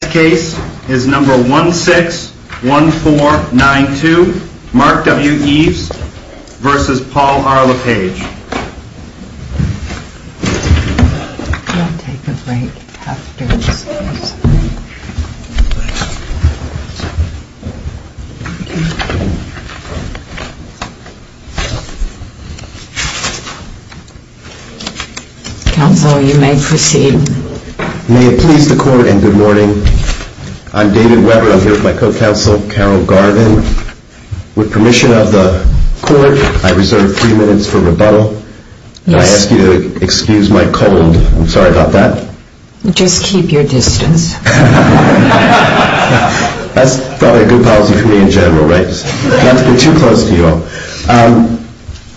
This case is number 161492, Mark W. Eves v. Paul R. LePage Counsel, you may proceed. May it please the Court, and good morning. I'm David Weber. I'm here with my co-counsel, Carol Garvin. With permission of the Court, I reserve three minutes for rebuttal. May I ask you to excuse my cold? I'm sorry about that. Just keep your distance. That's probably a good policy for me in general, right? Not to be too close to you all.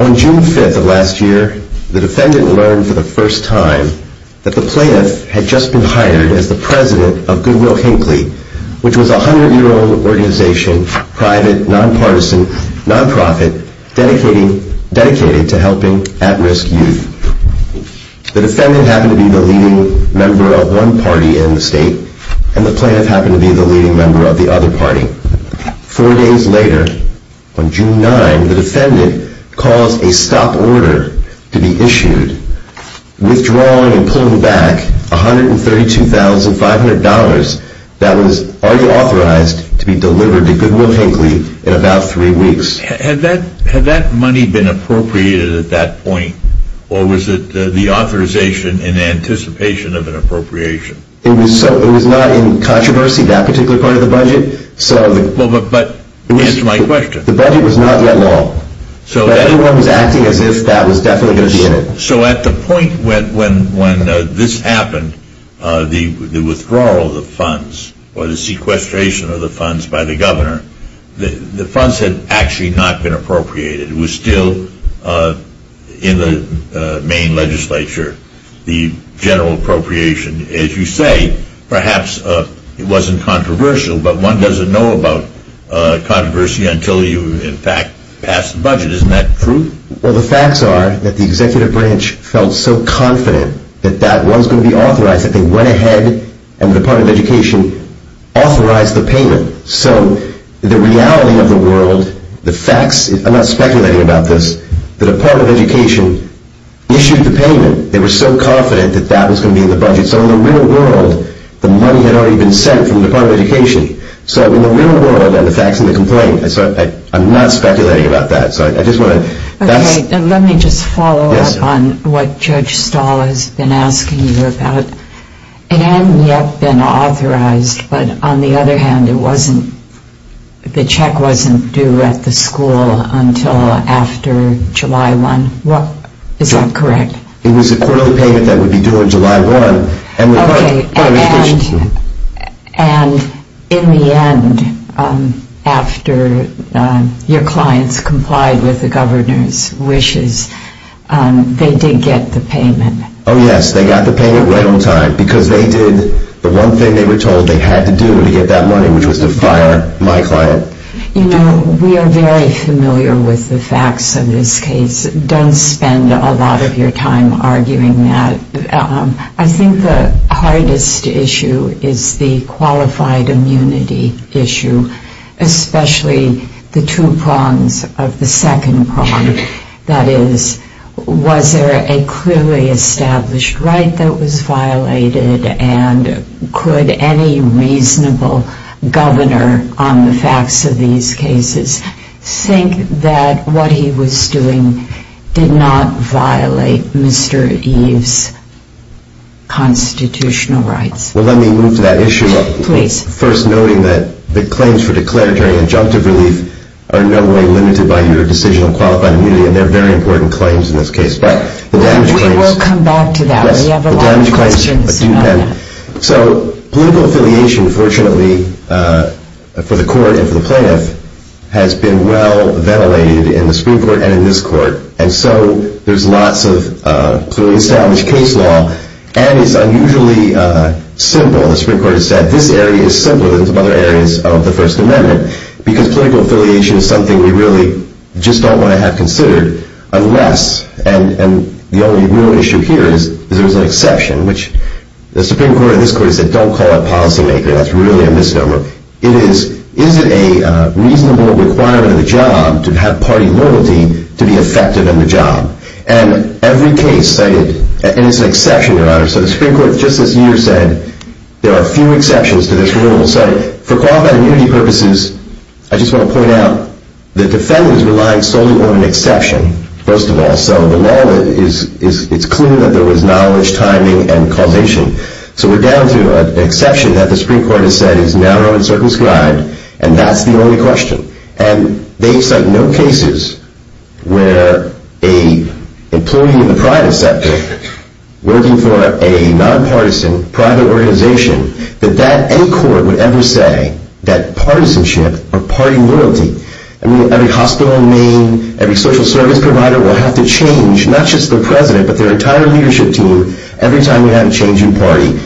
On June 5th of last year, the defendant learned for the first time that the plaintiff had just been hired as the president of Goodwill Hinckley, which was a 100-year-old organization, private, nonpartisan, nonprofit, dedicated to helping at-risk youth. The defendant happened to be the leading member of one party in the state, and the plaintiff happened to be the leading member of the other party. Four days later, on June 9th, the defendant caused a stop order to be issued, withdrawing and pulling back $132,500 that was already authorized to be delivered to Goodwill Hinckley in about three weeks. Had that money been appropriated at that point, or was it the authorization in anticipation of an appropriation? It was not in controversy, that particular part of the budget. Answer my question. The budget was not yet law, but everyone was acting as if that was definitely going to be in it. So at the point when this happened, the withdrawal of the funds or the sequestration of the funds by the governor, the funds had actually not been appropriated. It was still in the main legislature, the general appropriation. As you say, perhaps it wasn't controversial, but one doesn't know about controversy until you in fact pass the budget. Isn't that true? Well, the facts are that the executive branch felt so confident that that was going to be authorized that they went ahead and the Department of Education authorized the payment. So the reality of the world, the facts, I'm not speculating about this, the Department of Education issued the payment. They were so confident that that was going to be in the budget. So in the real world, the money had already been sent from the Department of Education. So in the real world, the facts and the complaint, I'm not speculating about that. Let me just follow up on what Judge Stahl has been asking you about. It hadn't yet been authorized, but on the other hand, the check wasn't due at the school until after July 1. Is that correct? It was a quarterly payment that would be due on July 1. Okay, and in the end, after your clients complied with the governor's wishes, they did get the payment. Oh, yes, they got the payment right on time because they did the one thing they were told they had to do to get that money, which was to fire my client. You know, we are very familiar with the facts in this case. Don't spend a lot of your time arguing that. I think the hardest issue is the qualified immunity issue, especially the two prongs of the second prong. That is, was there a clearly established right that was violated and could any reasonable governor on the facts of these cases think that what he was doing did not violate Mr. Eve's constitutional rights? Well, let me move to that issue. Please. First, noting that the claims for declaratory injunctive relief are in no way limited by your decision on qualified immunity, and they're very important claims in this case. We will come back to that. We have a lot of questions. So political affiliation, fortunately, for the court and for the plaintiff, has been well ventilated in the Supreme Court and in this court, and so there's lots of clearly established case law, and it's unusually simple. The Supreme Court has said this area is simpler than some other areas of the First Amendment because political affiliation is something we really just don't want to have considered unless, and the only real issue here is there's an exception, which the Supreme Court in this court has said don't call it policymaker. That's really a misnomer. It is, is it a reasonable requirement of the job to have party loyalty to be effective in the job? And every case cited, and it's an exception, Your Honor, so the Supreme Court just this year said there are few exceptions to this rule. So for qualified immunity purposes, I just want to point out the defendant is relying solely on an exception, first of all. And so the law, it's clear that there was knowledge, timing, and causation. So we're down to an exception that the Supreme Court has said is narrow and circumscribed, and that's the only question. And they cite no cases where a employee in the private sector working for a nonpartisan private organization, that any court would ever say that partisanship or party loyalty, I mean, every hospital in Maine, every social service provider will have to change, not just the president, but their entire leadership team, every time we have a change in party.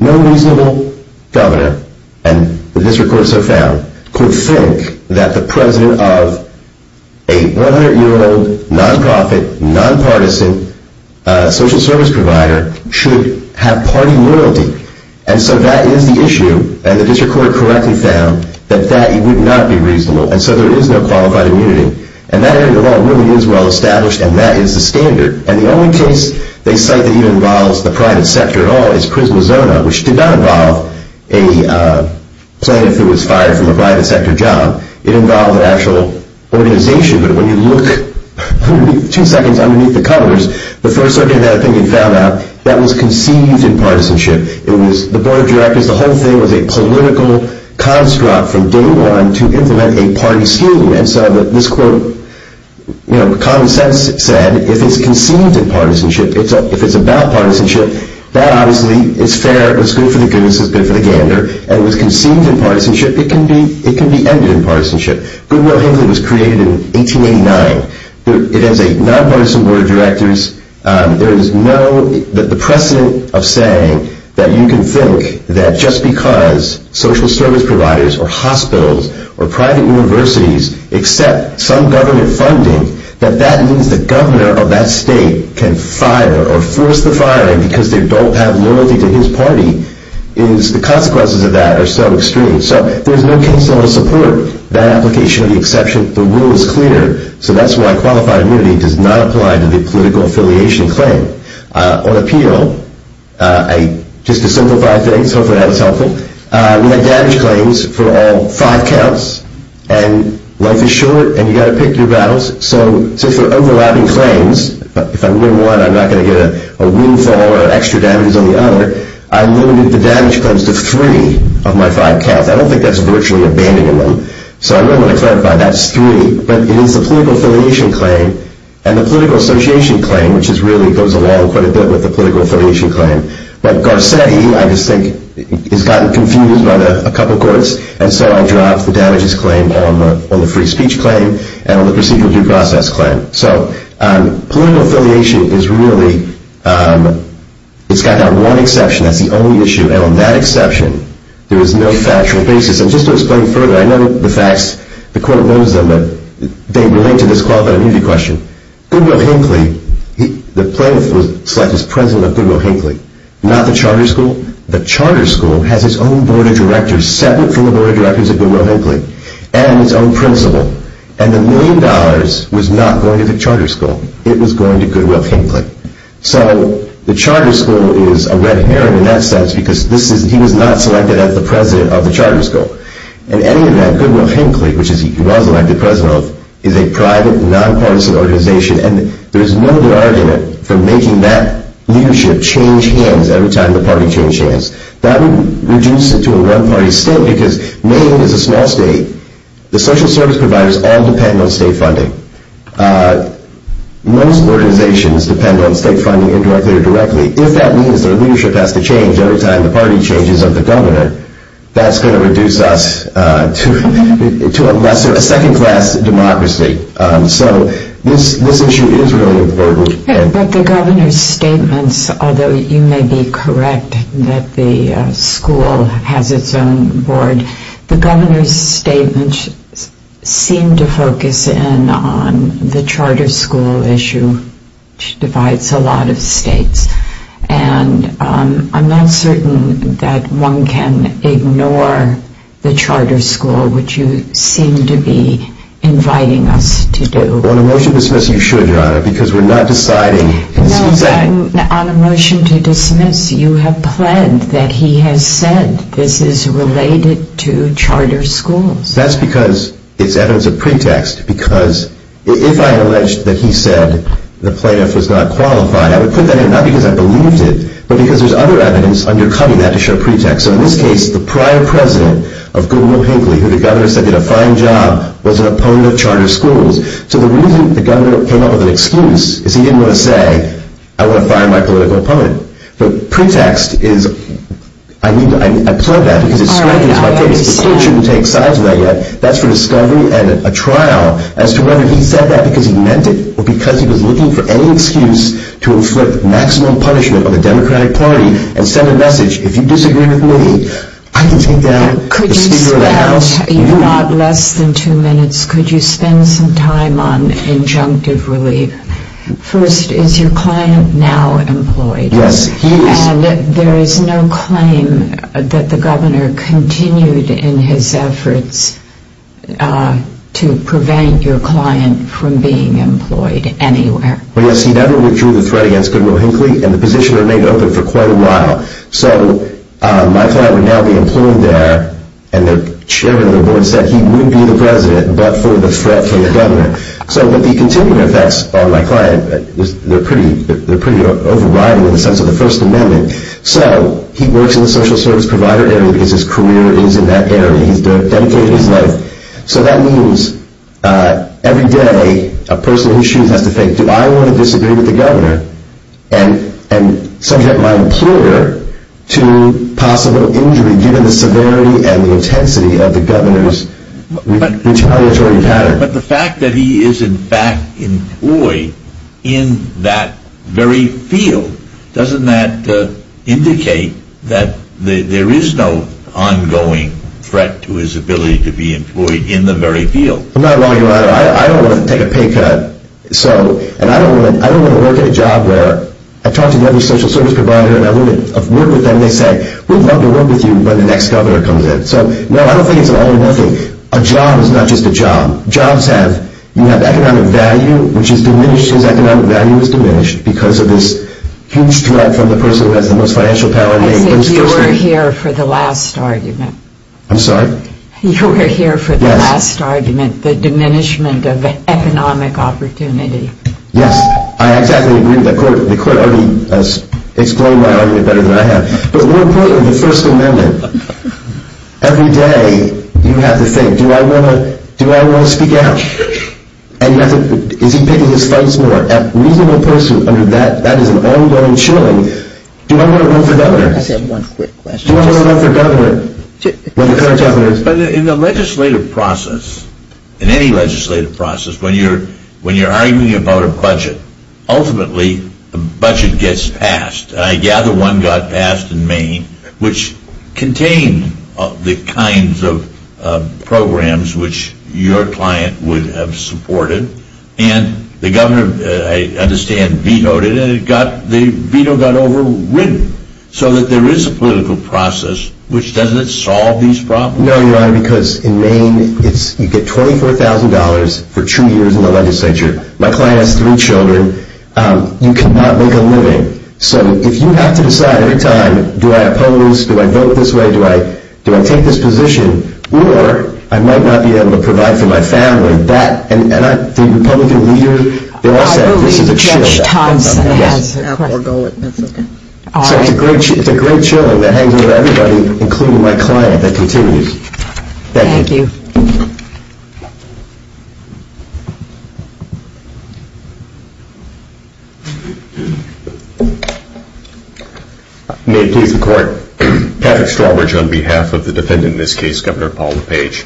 No reasonable governor, and the district court has so found, could think that the president of a 100-year-old nonprofit, nonpartisan social service provider should have party loyalty. And so that is the issue, and the district court correctly found that that would not be reasonable. And so there is no qualified immunity. And that area of law really is well established, and that is the standard. And the only case they cite that even involves the private sector at all is Prismazona, which did not involve a plaintiff who was fired from a private sector job. It involved an actual organization. But when you look two seconds underneath the covers, the First Circuit had a thing and found out that was conceived in partisanship. The board of directors, the whole thing was a political construct from day one to implement a party scheme. And so this quote, you know, common sense said, if it's conceived in partisanship, if it's about partisanship, that obviously is fair, it's good for the goose, it's good for the gander. And if it's conceived in partisanship, it can be ended in partisanship. Goodwill-Hinkley was created in 1889. It has a nonpartisan board of directors. There is no precedent of saying that you can think that just because social service providers or hospitals or private universities accept some government funding, that that means the governor of that state can fire or force the firing because they don't have loyalty to his party. The consequences of that are so extreme. So there's no case law to support that application of the exception. The rule is clear. So that's why qualified immunity does not apply to the political affiliation claim. On appeal, just to simplify things, hopefully that was helpful, we had damage claims for all five counts. And life is short, and you've got to pick your battles. So for overlapping claims, if I win one, I'm not going to get a windfall or extra damage on the other. I limited the damage claims to three of my five counts. I don't think that's virtually abandonment. So I really want to clarify, that's three. But it is the political affiliation claim and the political association claim, which really goes along quite a bit with the political affiliation claim. But Garcetti, I just think, has gotten confused by a couple courts, and so I dropped the damages claim on the free speech claim and on the procedural due process claim. So political affiliation is really, it's got that one exception. That's the only issue. And on that exception, there is no factual basis. And just to explain further, I know the facts, the court knows them, but they relate to this qualified immunity question. Goodwill-Hinckley, the plaintiff was selected as president of Goodwill-Hinckley, not the charter school. The charter school has its own board of directors, separate from the board of directors of Goodwill-Hinckley, and its own principal. And the million dollars was not going to the charter school. It was going to Goodwill-Hinckley. So the charter school is a red herring in that sense, because he was not selected as the president of the charter school. In any event, Goodwill-Hinckley, which he was elected president of, is a private, nonpartisan organization, and there is no bargain for making that leadership change hands every time the party changes hands. That would reduce it to a one-party state, because Maine is a small state. The social service providers all depend on state funding. Most organizations depend on state funding indirectly or directly. If that means their leadership has to change every time the party changes of the governor, that's going to reduce us to a second-class democracy. So this issue is really important. But the governor's statements, although you may be correct that the school has its own board, the governor's statements seem to focus in on the charter school issue, which divides a lot of states. And I'm not certain that one can ignore the charter school, which you seem to be inviting us to do. On a motion to dismiss, you should, Your Honor, because we're not deciding. No, on a motion to dismiss, you have pled that he has said this is related to charter schools. That's because it's evidence of pretext. Because if I alleged that he said the plaintiff was not qualified, I would put that in not because I believed it, but because there's other evidence undercutting that to show pretext. So in this case, the prior president of Goodwill-Hinkley, who the governor said did a fine job, was an opponent of charter schools. So the reason the governor came up with an excuse is he didn't want to say, I want to fire my political opponent. But pretext is, I pled that because it strengthens my case. The court shouldn't take sides with that yet. That's for discovery and a trial as to whether he said that because he meant it or because he was looking for any excuse to inflict maximum punishment on the Democratic Party and send a message, if you disagree with me, I can take down the Speaker of the House. Could you spare a lot less than two minutes? Could you spend some time on injunctive relief? First, is your client now employed? Yes, he is. And there is no claim that the governor continued in his efforts to prevent your client from being employed anywhere? Well, yes, he never withdrew the threat against Goodwill-Hinkley, and the position remained open for quite a while. So my client would now be employed there, and the chairman of the board said he wouldn't be the president but for the threat for the governor. So the continuing effects on my client, they're pretty overriding in the sense of the First Amendment. So he works in the social service provider area because his career is in that area. He's dedicated his life. So that means every day a person who shoots has to think, do I want to disagree with the governor and subject my employer to possible injury given the severity and the intensity of the governor's retaliatory pattern. But the fact that he is, in fact, employed in that very field, doesn't that indicate that there is no ongoing threat to his ability to be employed in the very field? I don't want to take a pay cut. And I don't want to work at a job where I talk to the other social service provider and I work with them and they say, we'd love to work with you when the next governor comes in. So, no, I don't think it's all or nothing. A job is not just a job. Jobs have economic value, which is diminished because economic value is diminished because of this huge threat from the person who has the most financial power. I think you were here for the last argument. I'm sorry? You were here for the last argument, the diminishment of economic opportunity. Yes, I exactly agree with that. The court already explained my argument better than I have. But more importantly, the First Amendment. Every day you have to think, do I want to speak out? And is he picking his fights more? And leaving a person under that, that is an ongoing chilling. Do I want to vote for governor? I just have one quick question. Do I want to vote for governor? In the legislative process, in any legislative process, when you're arguing about a budget, ultimately the budget gets passed. I gather one got passed in Maine, which contained the kinds of programs which your client would have supported. And the governor, I understand, vetoed it. And the veto got overridden so that there is a political process, which doesn't solve these problems. No, Your Honor, because in Maine you get $24,000 for two years in the legislature. My client has three children. You cannot make a living. So if you have to decide every time, do I oppose? Do I vote this way? Do I take this position? Or I might not be able to provide for my family. And the Republican leader, they all said this is a chill. I believe Judge Thompson has a core goal at this point. So it's a great chilling that hangs with everybody, including my client, that continues. Thank you. Thank you. Thank you. May it please the Court. Patrick Strawbridge on behalf of the defendant in this case, Governor Paul LePage.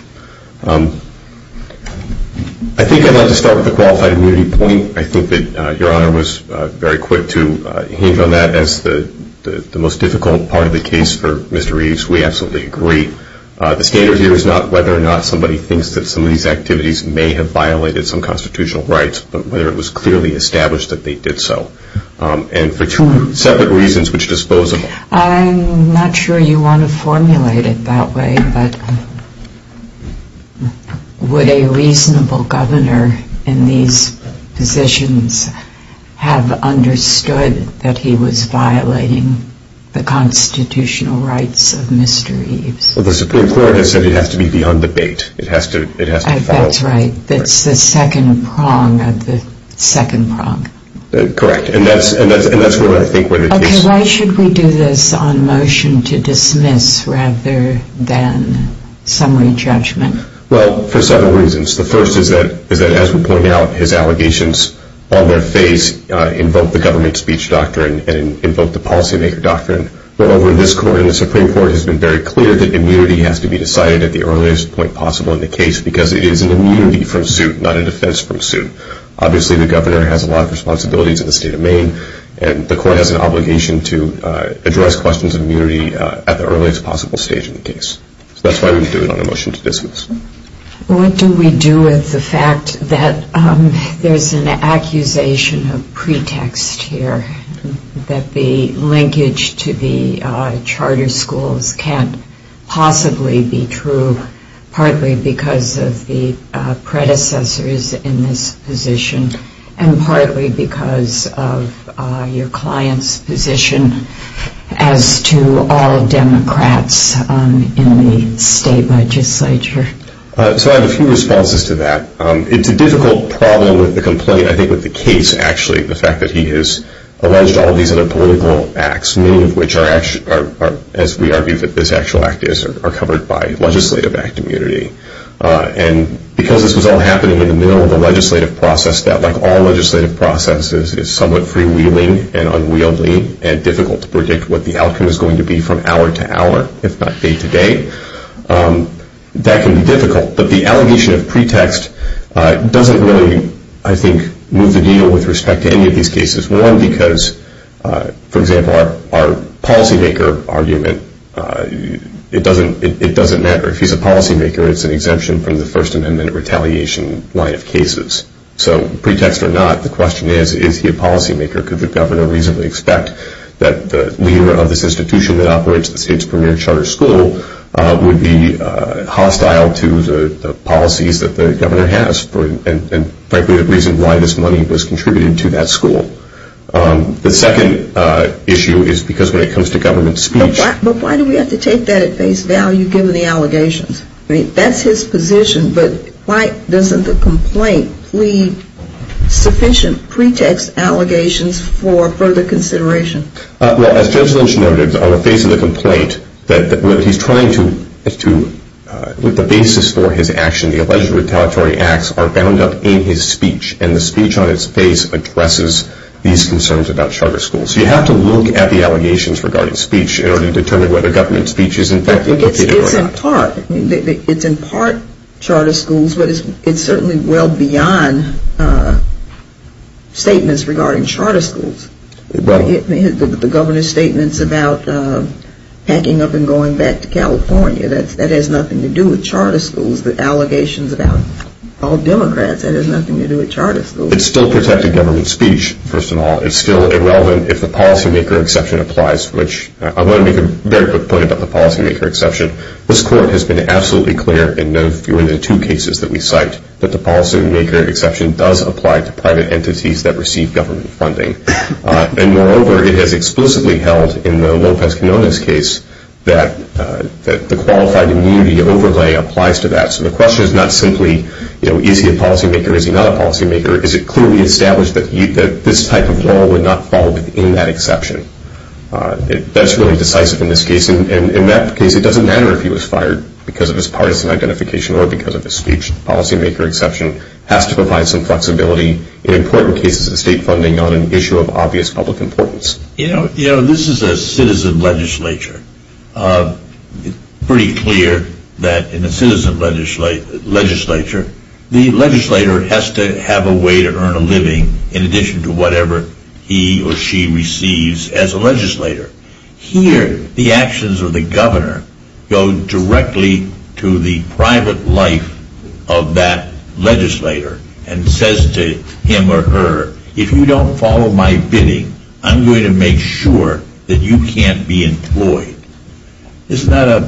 I think I'd like to start with a qualified immunity point. I think that Your Honor was very quick to hinge on that as the most difficult part of the case for Mr. Reeves. We absolutely agree. The standard here is not whether or not somebody thinks that some of these activities may have violated some constitutional rights, but whether it was clearly established that they did so. And for two separate reasons which dispose of them. I'm not sure you want to formulate it that way, but would a reasonable governor in these positions have understood that he was violating the constitutional rights of Mr. Reeves? Well, the Supreme Court has said it has to be beyond debate. That's right. It's the second prong of the second prong. Correct. And that's what I think what it takes. Okay. Why should we do this on motion to dismiss rather than summary judgment? Well, for several reasons. The first is that, as we point out, his allegations on their face invoke the government speech doctrine and invoke the policymaker doctrine. However, this court and the Supreme Court has been very clear that immunity has to be decided at the earliest point possible in the case because it is an immunity from suit, not a defense from suit. Obviously, the governor has a lot of responsibilities in the state of Maine, and the court has an obligation to address questions of immunity at the earliest possible stage in the case. So that's why we do it on a motion to dismiss. What do we do with the fact that there's an accusation of pretext here that the linkage to the charter schools can't possibly be true partly because of the predecessors in this position and partly because of your client's position as to all Democrats in the state legislature? So I have a few responses to that. It's a difficult problem with the complaint, I think, with the case, actually, the fact that he has alleged all these other political acts, many of which are, as we argue that this actual act is, are covered by legislative act immunity. And because this was all happening in the middle of a legislative process that, like all legislative processes, is somewhat freewheeling and unwieldy and difficult to predict what the outcome is going to be from hour to hour, if not day to day, that can be difficult. But the allegation of pretext doesn't really, I think, move the deal with respect to any of these cases. One, because, for example, our policymaker argument, it doesn't matter. If he's a policymaker, it's an exemption from the First Amendment retaliation line of cases. So pretext or not, the question is, is he a policymaker? Could the governor reasonably expect that the leader of this institution that operates the state's premier charter school would be hostile to the policies that the governor has and, frankly, the reason why this money was contributed to that school? The second issue is because when it comes to government speech. But why do we have to take that at face value, given the allegations? That's his position, but why doesn't the complaint plead sufficient pretext allegations for further consideration? Well, as Judge Lynch noted, on the face of the complaint, what he's trying to do with the basis for his action, the alleged retaliatory acts are bound up in his speech, and the speech on its face addresses these concerns about charter schools. So you have to look at the allegations regarding speech in order to determine whether government speech is in fact implicated or not. It's in part charter schools, but it's certainly well beyond statements regarding charter schools. The governor's statements about packing up and going back to California, that has nothing to do with charter schools. The allegations about all Democrats, that has nothing to do with charter schools. It's still protected government speech, first of all. It's still irrelevant if the policymaker exception applies, which I want to make a very quick point about the policymaker exception. This court has been absolutely clear in the two cases that we cite, that the policymaker exception does apply to private entities that receive government funding. And moreover, it has explicitly held in the Lopez-Canonis case that the qualified immunity overlay applies to that. So the question is not simply, is he a policymaker, is he not a policymaker? Is it clearly established that this type of law would not fall within that exception? That's really decisive in this case. And in that case, it doesn't matter if he was fired because of his partisan identification or because of his speech. The policymaker exception has to provide some flexibility in important cases of state funding on an issue of obvious public importance. You know, this is a citizen legislature. It's pretty clear that in a citizen legislature, the legislator has to have a way to earn a living in addition to whatever he or she receives as a legislator. Here, the actions of the governor go directly to the private life of that legislator and says to him or her, if you don't follow my bidding, I'm going to make sure that you can't be employed. Isn't that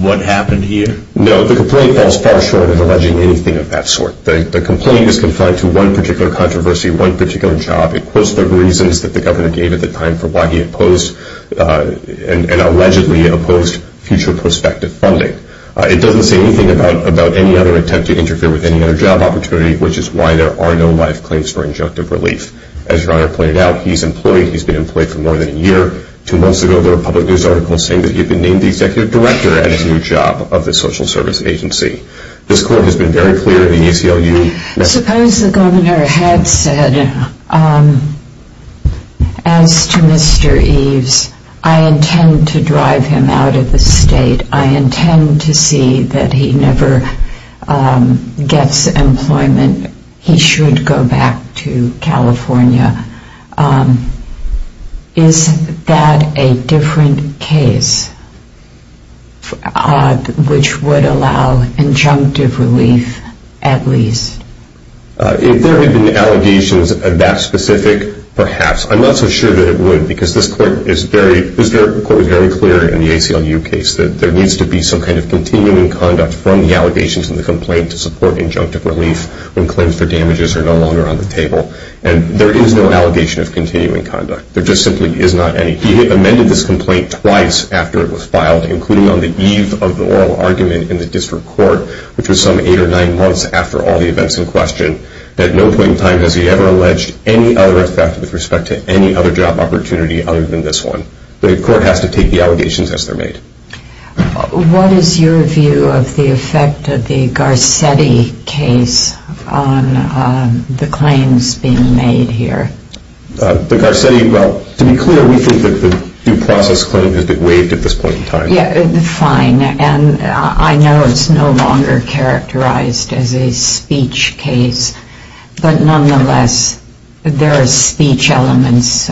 what happened here? No, the complaint falls far short of alleging anything of that sort. The complaint is confined to one particular controversy, one particular job. It quotes the reasons that the governor gave at the time for why he opposed and allegedly opposed future prospective funding. It doesn't say anything about any other attempt to interfere with any other job opportunity, which is why there are no life claims for injunctive relief. As your honor pointed out, he's employed. He's been employed for more than a year. Two months ago, there were public news articles saying that he had been named the executive director at a new job of the social service agency. This court has been very clear in the ACLU. Suppose the governor had said, as to Mr. Eves, I intend to drive him out of the state. I intend to see that he never gets employment. He should go back to California. Is that a different case, which would allow injunctive relief at least? If there had been allegations of that specific, perhaps. I'm not so sure that it would, because this court is very clear in the ACLU case that there needs to be some kind of continuing conduct from the allegations and the complaint to support injunctive relief when claims for damages are no longer on the table. And there is no allegation of continuing conduct. There just simply is not any. He amended this complaint twice after it was filed, including on the eve of the oral argument in the district court, which was some eight or nine months after all the events in question. At no point in time has he ever alleged any other effect with respect to any other job opportunity other than this one. The court has to take the allegations as they're made. What is your view of the effect of the Garcetti case on the claims being made here? The Garcetti, well, to be clear, we think that the due process claim has been waived at this point in time. Yeah, fine. And I know it's no longer characterized as a speech case, but nonetheless there are speech elements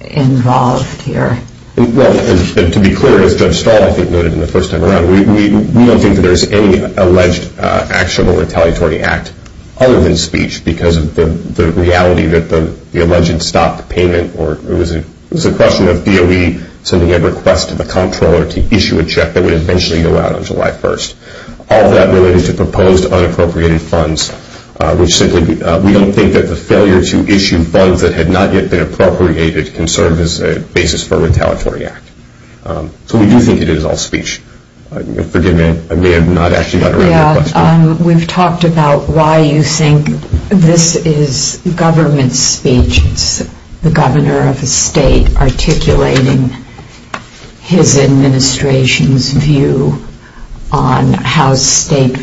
involved here. Well, to be clear, as Judge Stahl, I think, noted in the first time around, we don't think that there is any alleged action or retaliatory act other than speech because of the reality that the alleged stopped payment or it was a question of DOE sending a request to the comptroller to issue a check that would eventually go out on July 1st. All of that related to proposed unappropriated funds, which simply we don't think that the failure to issue funds that had not yet been appropriated can serve as a basis for a retaliatory act. So we do think it is all speech. Forgive me, I may have not actually gotten around to your question. We've talked about why you think this is government speech. It's the governor of a state articulating his administration's view on how state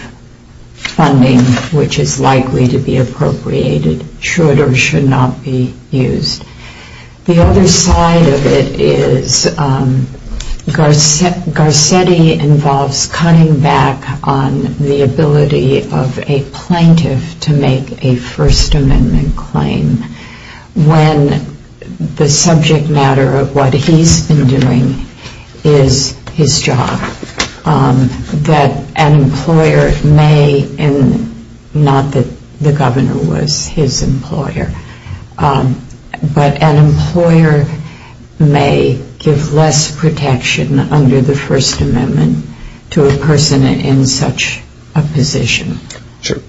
funding, which is likely to be appropriated, should or should not be used. The other side of it is Garcetti involves cutting back on the ability of a plaintiff to make a First Amendment claim when the subject matter of what he's been doing is his job. That an employer may, and not that the governor was his employer, but an employer may give less protection under the First Amendment to a person in such a position.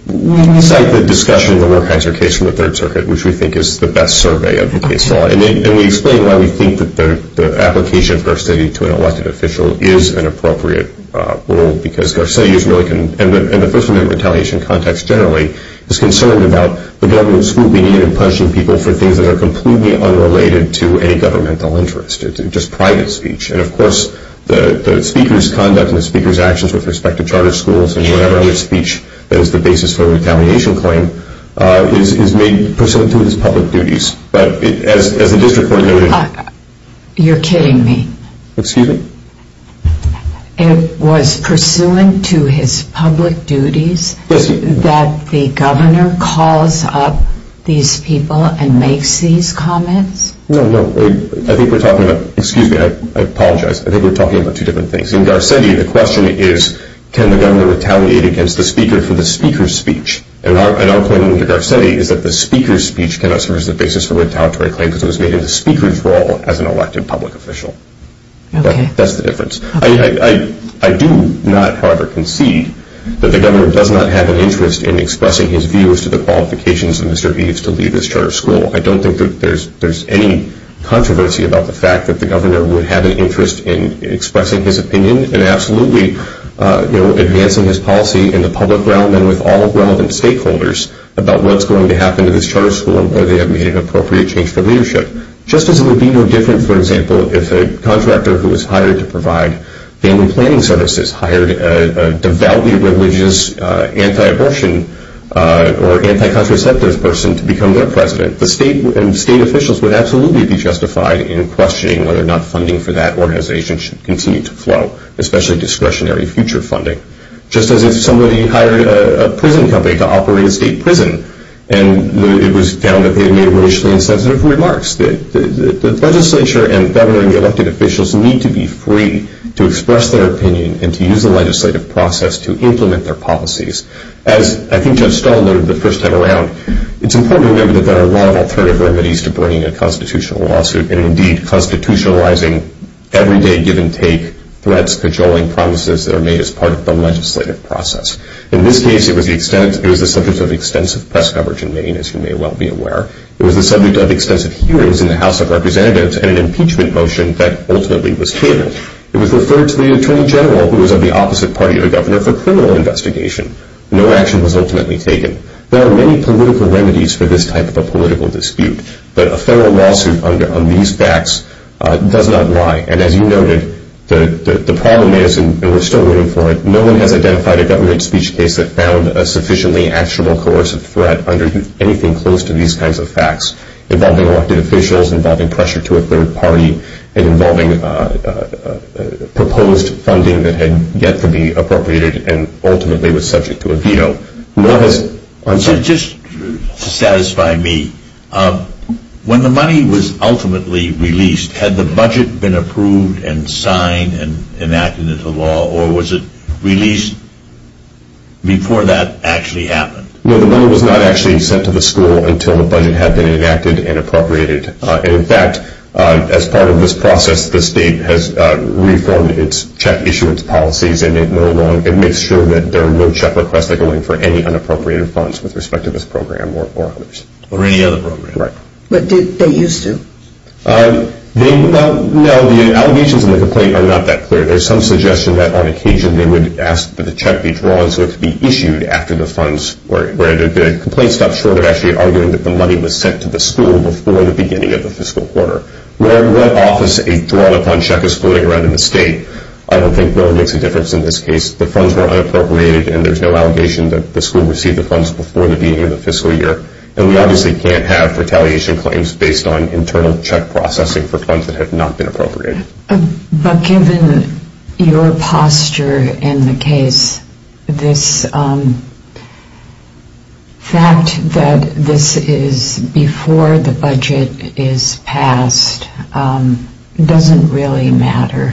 We cite the discussion of the Wertheiser case from the Third Circuit, which we think is the best survey of the case law, and we explain why we think that the application of Garcetti to an elected official is an appropriate rule because Garcetti is really, in the First Amendment retaliation context generally, is concerned about the government's scrutiny and punishing people for things that are completely unrelated to any governmental interest. It's just private speech. And of course, the speaker's conduct and the speaker's actions with respect to charter schools and whatever other speech that is the basis for a retaliation claim is made pursuant to his public duties. But as the district court noted... You're kidding me. Excuse me? It was pursuant to his public duties that the governor calls up these people and makes these comments? No, no. I think we're talking about... Excuse me. I apologize. I think we're talking about two different things. In Garcetti, the question is, can the governor retaliate against the speaker for the speaker's speech? And our claim under Garcetti is that the speaker's speech cannot serve as the basis for a retaliatory claim because it was made in the speaker's role as an elected public official. That's the difference. I do not, however, concede that the governor does not have an interest in expressing his views to the qualifications of Mr. Eves to lead this charter school. I don't think that there's any controversy about the fact that the governor would have an interest in expressing his opinion and absolutely advancing his policy in the public realm and with all relevant stakeholders about what's going to happen to this charter school and whether they have made an appropriate change for leadership. Just as it would be no different, for example, if a contractor who was hired to provide family planning services hired a devoutly religious anti-abortion or anti-contraceptive person to become their president, the state and state officials would absolutely be justified in questioning whether or not funding for that organization should continue to flow, especially discretionary future funding. Just as if somebody hired a prison company to operate a state prison and it was found that they had made racially insensitive remarks. The legislature and the governor and the elected officials need to be free to express their opinion and to use the legislative process to implement their policies. As I think Judge Stahl noted the first time around, it's important to remember that there are a lot of alternative remedies to bringing a constitutional lawsuit and indeed constitutionalizing everyday give-and-take threats, cajoling promises that are made as part of the legislative process. In this case, it was the subject of extensive press coverage in Maine, as you may well be aware. It was the subject of extensive hearings in the House of Representatives and an impeachment motion that ultimately was catered. It was referred to the Attorney General, who was of the opposite party to the governor, for criminal investigation. No action was ultimately taken. There are many political remedies for this type of a political dispute, but a federal lawsuit on these facts does not lie. And as you noted, the problem is, and we're still waiting for it, no one has identified a government speech case that found a sufficiently actionable coercive threat under anything close to these kinds of facts involving elected officials, involving pressure to a third party, and involving proposed funding that had yet to be appropriated and ultimately was subject to a veto. Just to satisfy me, when the money was ultimately released, had the budget been approved and signed and enacted into law or was it released before that actually happened? No, the money was not actually sent to the school until the budget had been enacted and appropriated. And in fact, as part of this process, the state has reformed its check issuance policies and it makes sure that there are no check requests that go in for any unappropriated funds with respect to this program or others. Or any other program. Right. But did they used to? No, the allegations in the complaint are not that clear. There's some suggestion that on occasion they would ask for the check to be drawn so it could be issued after the funds, where the complaint stops short of actually arguing that the money was sent to the school before the beginning of the fiscal quarter. Where in that office a drawn-up-on-check is floating around in the state, I don't think really makes a difference in this case. The funds were unappropriated and there's no allegation that the school received the funds before the beginning of the fiscal year. And we obviously can't have retaliation claims based on internal check processing for funds that have not been appropriated. But given your posture in the case, this fact that this is before the budget is passed doesn't really matter.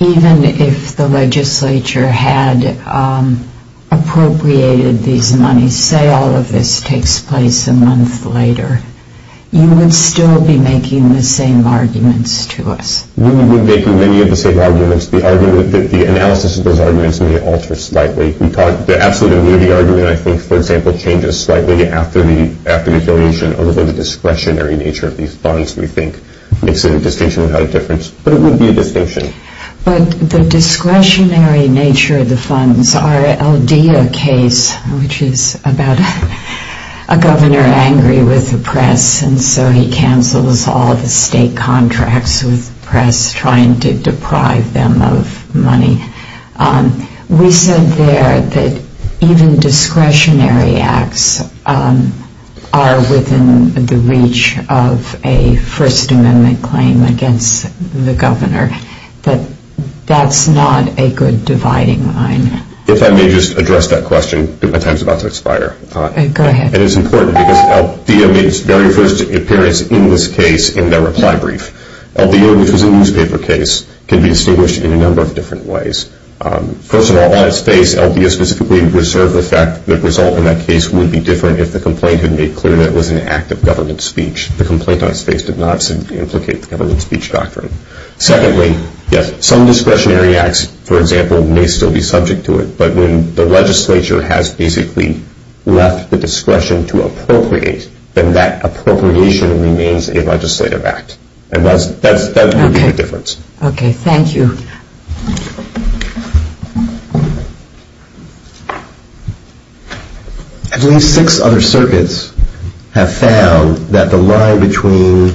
Even if the legislature had appropriated these monies, say all of this takes place a month later, you would still be making the same arguments to us. We would be making many of the same arguments. The analysis of those arguments may alter slightly. The absolute immunity argument, I think, for example, changes slightly after the affiliation, although the discretionary nature of these funds, we think, makes a distinction without a difference. But it would be a distinction. But the discretionary nature of the funds, our LDA case, which is about a governor angry with the press, and so he cancels all the state contracts with the press, trying to deprive them of money. We said there that even discretionary acts are within the reach of a First Amendment claim against the governor. But that's not a good dividing line. If I may just address that question. My time is about to expire. Go ahead. And it's important because LDA made its very first appearance in this case in their reply brief. LDA, which is a newspaper case, can be distinguished in a number of different ways. First of all, on its face, LDA specifically reserved the fact that the result in that case would be different if the complaint had made clear that it was an act of government speech. The complaint on its face did not implicate the government speech doctrine. Secondly, some discretionary acts, for example, may still be subject to it. But when the legislature has basically left the discretion to appropriate, then that appropriation remains a legislative act. And that's the difference. Okay, thank you. At least six other circuits have found that the line between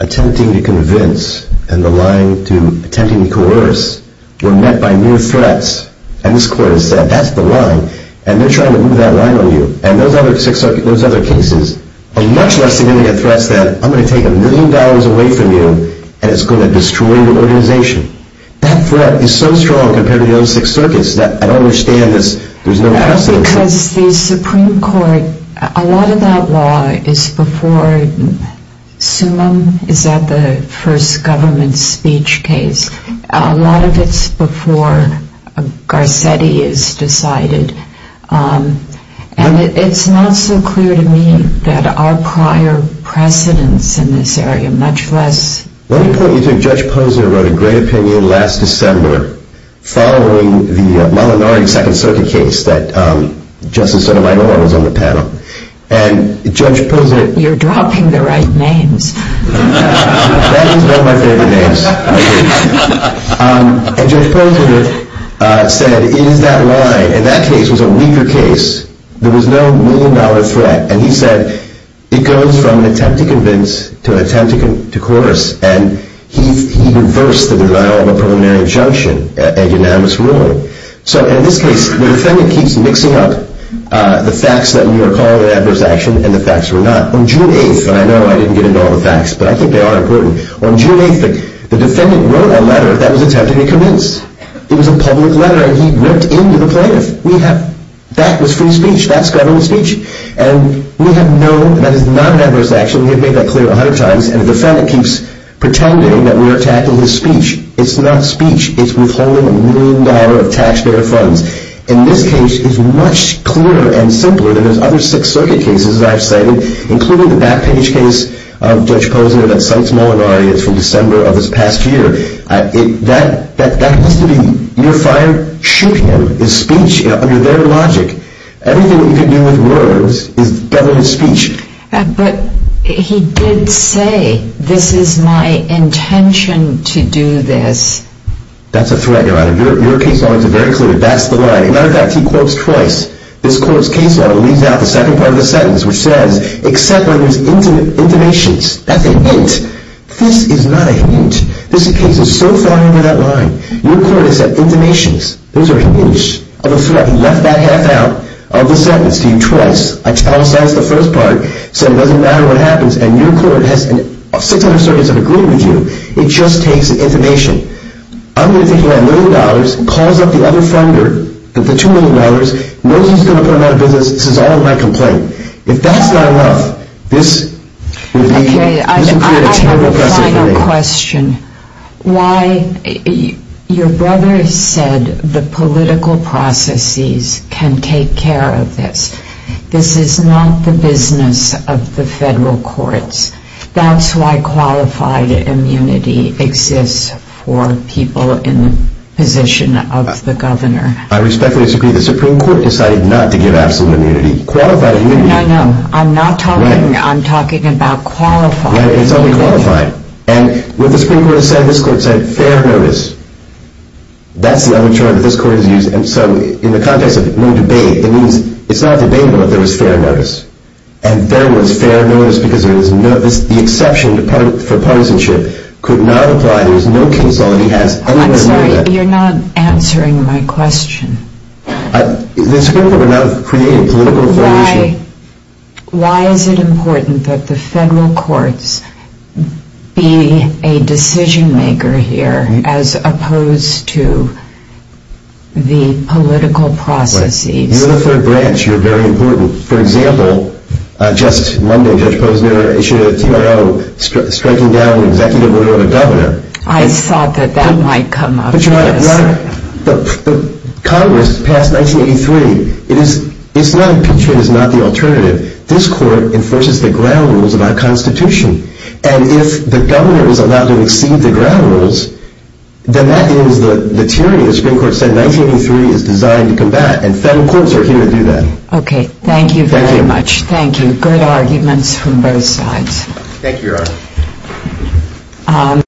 attempting to convince and the line to attempting to coerce were met by mere threats. And this court has said, that's the line. And they're trying to move that line on you. And those other cases are much less significant threats than I'm going to take a million dollars away from you and it's going to destroy your organization. That threat is so strong compared to the other six circuits that I don't understand this. That's because the Supreme Court, a lot of that law is before Summa. Is that the first government speech case? A lot of it's before Garcetti is decided. And it's not so clear to me that our prior precedence in this area, much less. Let me point you to Judge Posner who wrote a great opinion last December following the Malinari Second Circuit case that Justice Sotomayor was on the panel. And Judge Posner. You're dropping the right names. That was one of my favorite names. And Judge Posner said, it is that line. And that case was a weaker case. There was no million dollar threat. And he said, it goes from an attempt to convince to an attempt to coerce. And he reversed the denial of a preliminary injunction, a unanimous ruling. So in this case, the defendant keeps mixing up the facts that we were calling an adverse action and the facts were not. On June 8th, and I know I didn't get into all the facts, but I think they are important. On June 8th, the defendant wrote a letter that was attempting to convince. It was a public letter and he ripped into the plaintiff. That was free speech. That's government speech. And we have known that is not an adverse action. We have made that clear a hundred times. And the defendant keeps pretending that we are attacking his speech. It's not speech. It's withholding a million dollar of taxpayer funds. And this case is much clearer and simpler than those other Sixth Circuit cases that I've cited, including the back page case of Judge Posner that cites Molinari as from December of this past year. That needs to be, you're fired. Shoot him. It's speech under their logic. Everything that you can do with words is government speech. But he did say, this is my intention to do this. That's a threat, Your Honor. Your case law is very clear. That's the line. As a matter of fact, he quotes twice. This court's case law leaves out the second part of the sentence, which says, except when there's intimations. That's a hint. This is not a hint. This case is so far under that line. Your court has said intimations. Those are hints of a threat. He left that half out of the sentence to you twice. I tell us that's the first part, so it doesn't matter what happens. And your court has 600 circuits that agree with you. It just takes intimation. I'm going to take $1 million, calls up the other funder with the $2 million, knows he's going to put him out of business, says all in my complaint. If that's not enough, this would be a terrible precedent for me. Okay, I have a final question. Your brother said the political processes can take care of this. This is not the business of the federal courts. That's why qualified immunity exists for people in the position of the governor. I respectfully disagree. The Supreme Court decided not to give absolute immunity. Qualified immunity. No, no. I'm talking about qualified. Right, it's only qualified. And what the Supreme Court said, this court said fair notice. That's the only term that this court has used. And so in the context of no debate, it means it's not debatable if there was fair notice. And there was fair notice because the exception for partisanship could not apply. There was no case law that he has anywhere near that. I'm sorry, you're not answering my question. The Supreme Court would not have created political information. Why is it important that the federal courts be a decision-maker here as opposed to the political processes? You're in the third branch. You're very important. For example, just Monday, Judge Posner issued a TRO striking down an executive order of a governor. I thought that that might come up. Congress passed 1983. Impeachment is not the alternative. This court enforces the ground rules of our Constitution. And if the governor is allowed to exceed the ground rules, then that is the tyranny the Supreme Court said 1983 is designed to combat. And federal courts are here to do that. Okay. Thank you very much. Thank you. Good arguments from both sides. Thank you, Your Honor.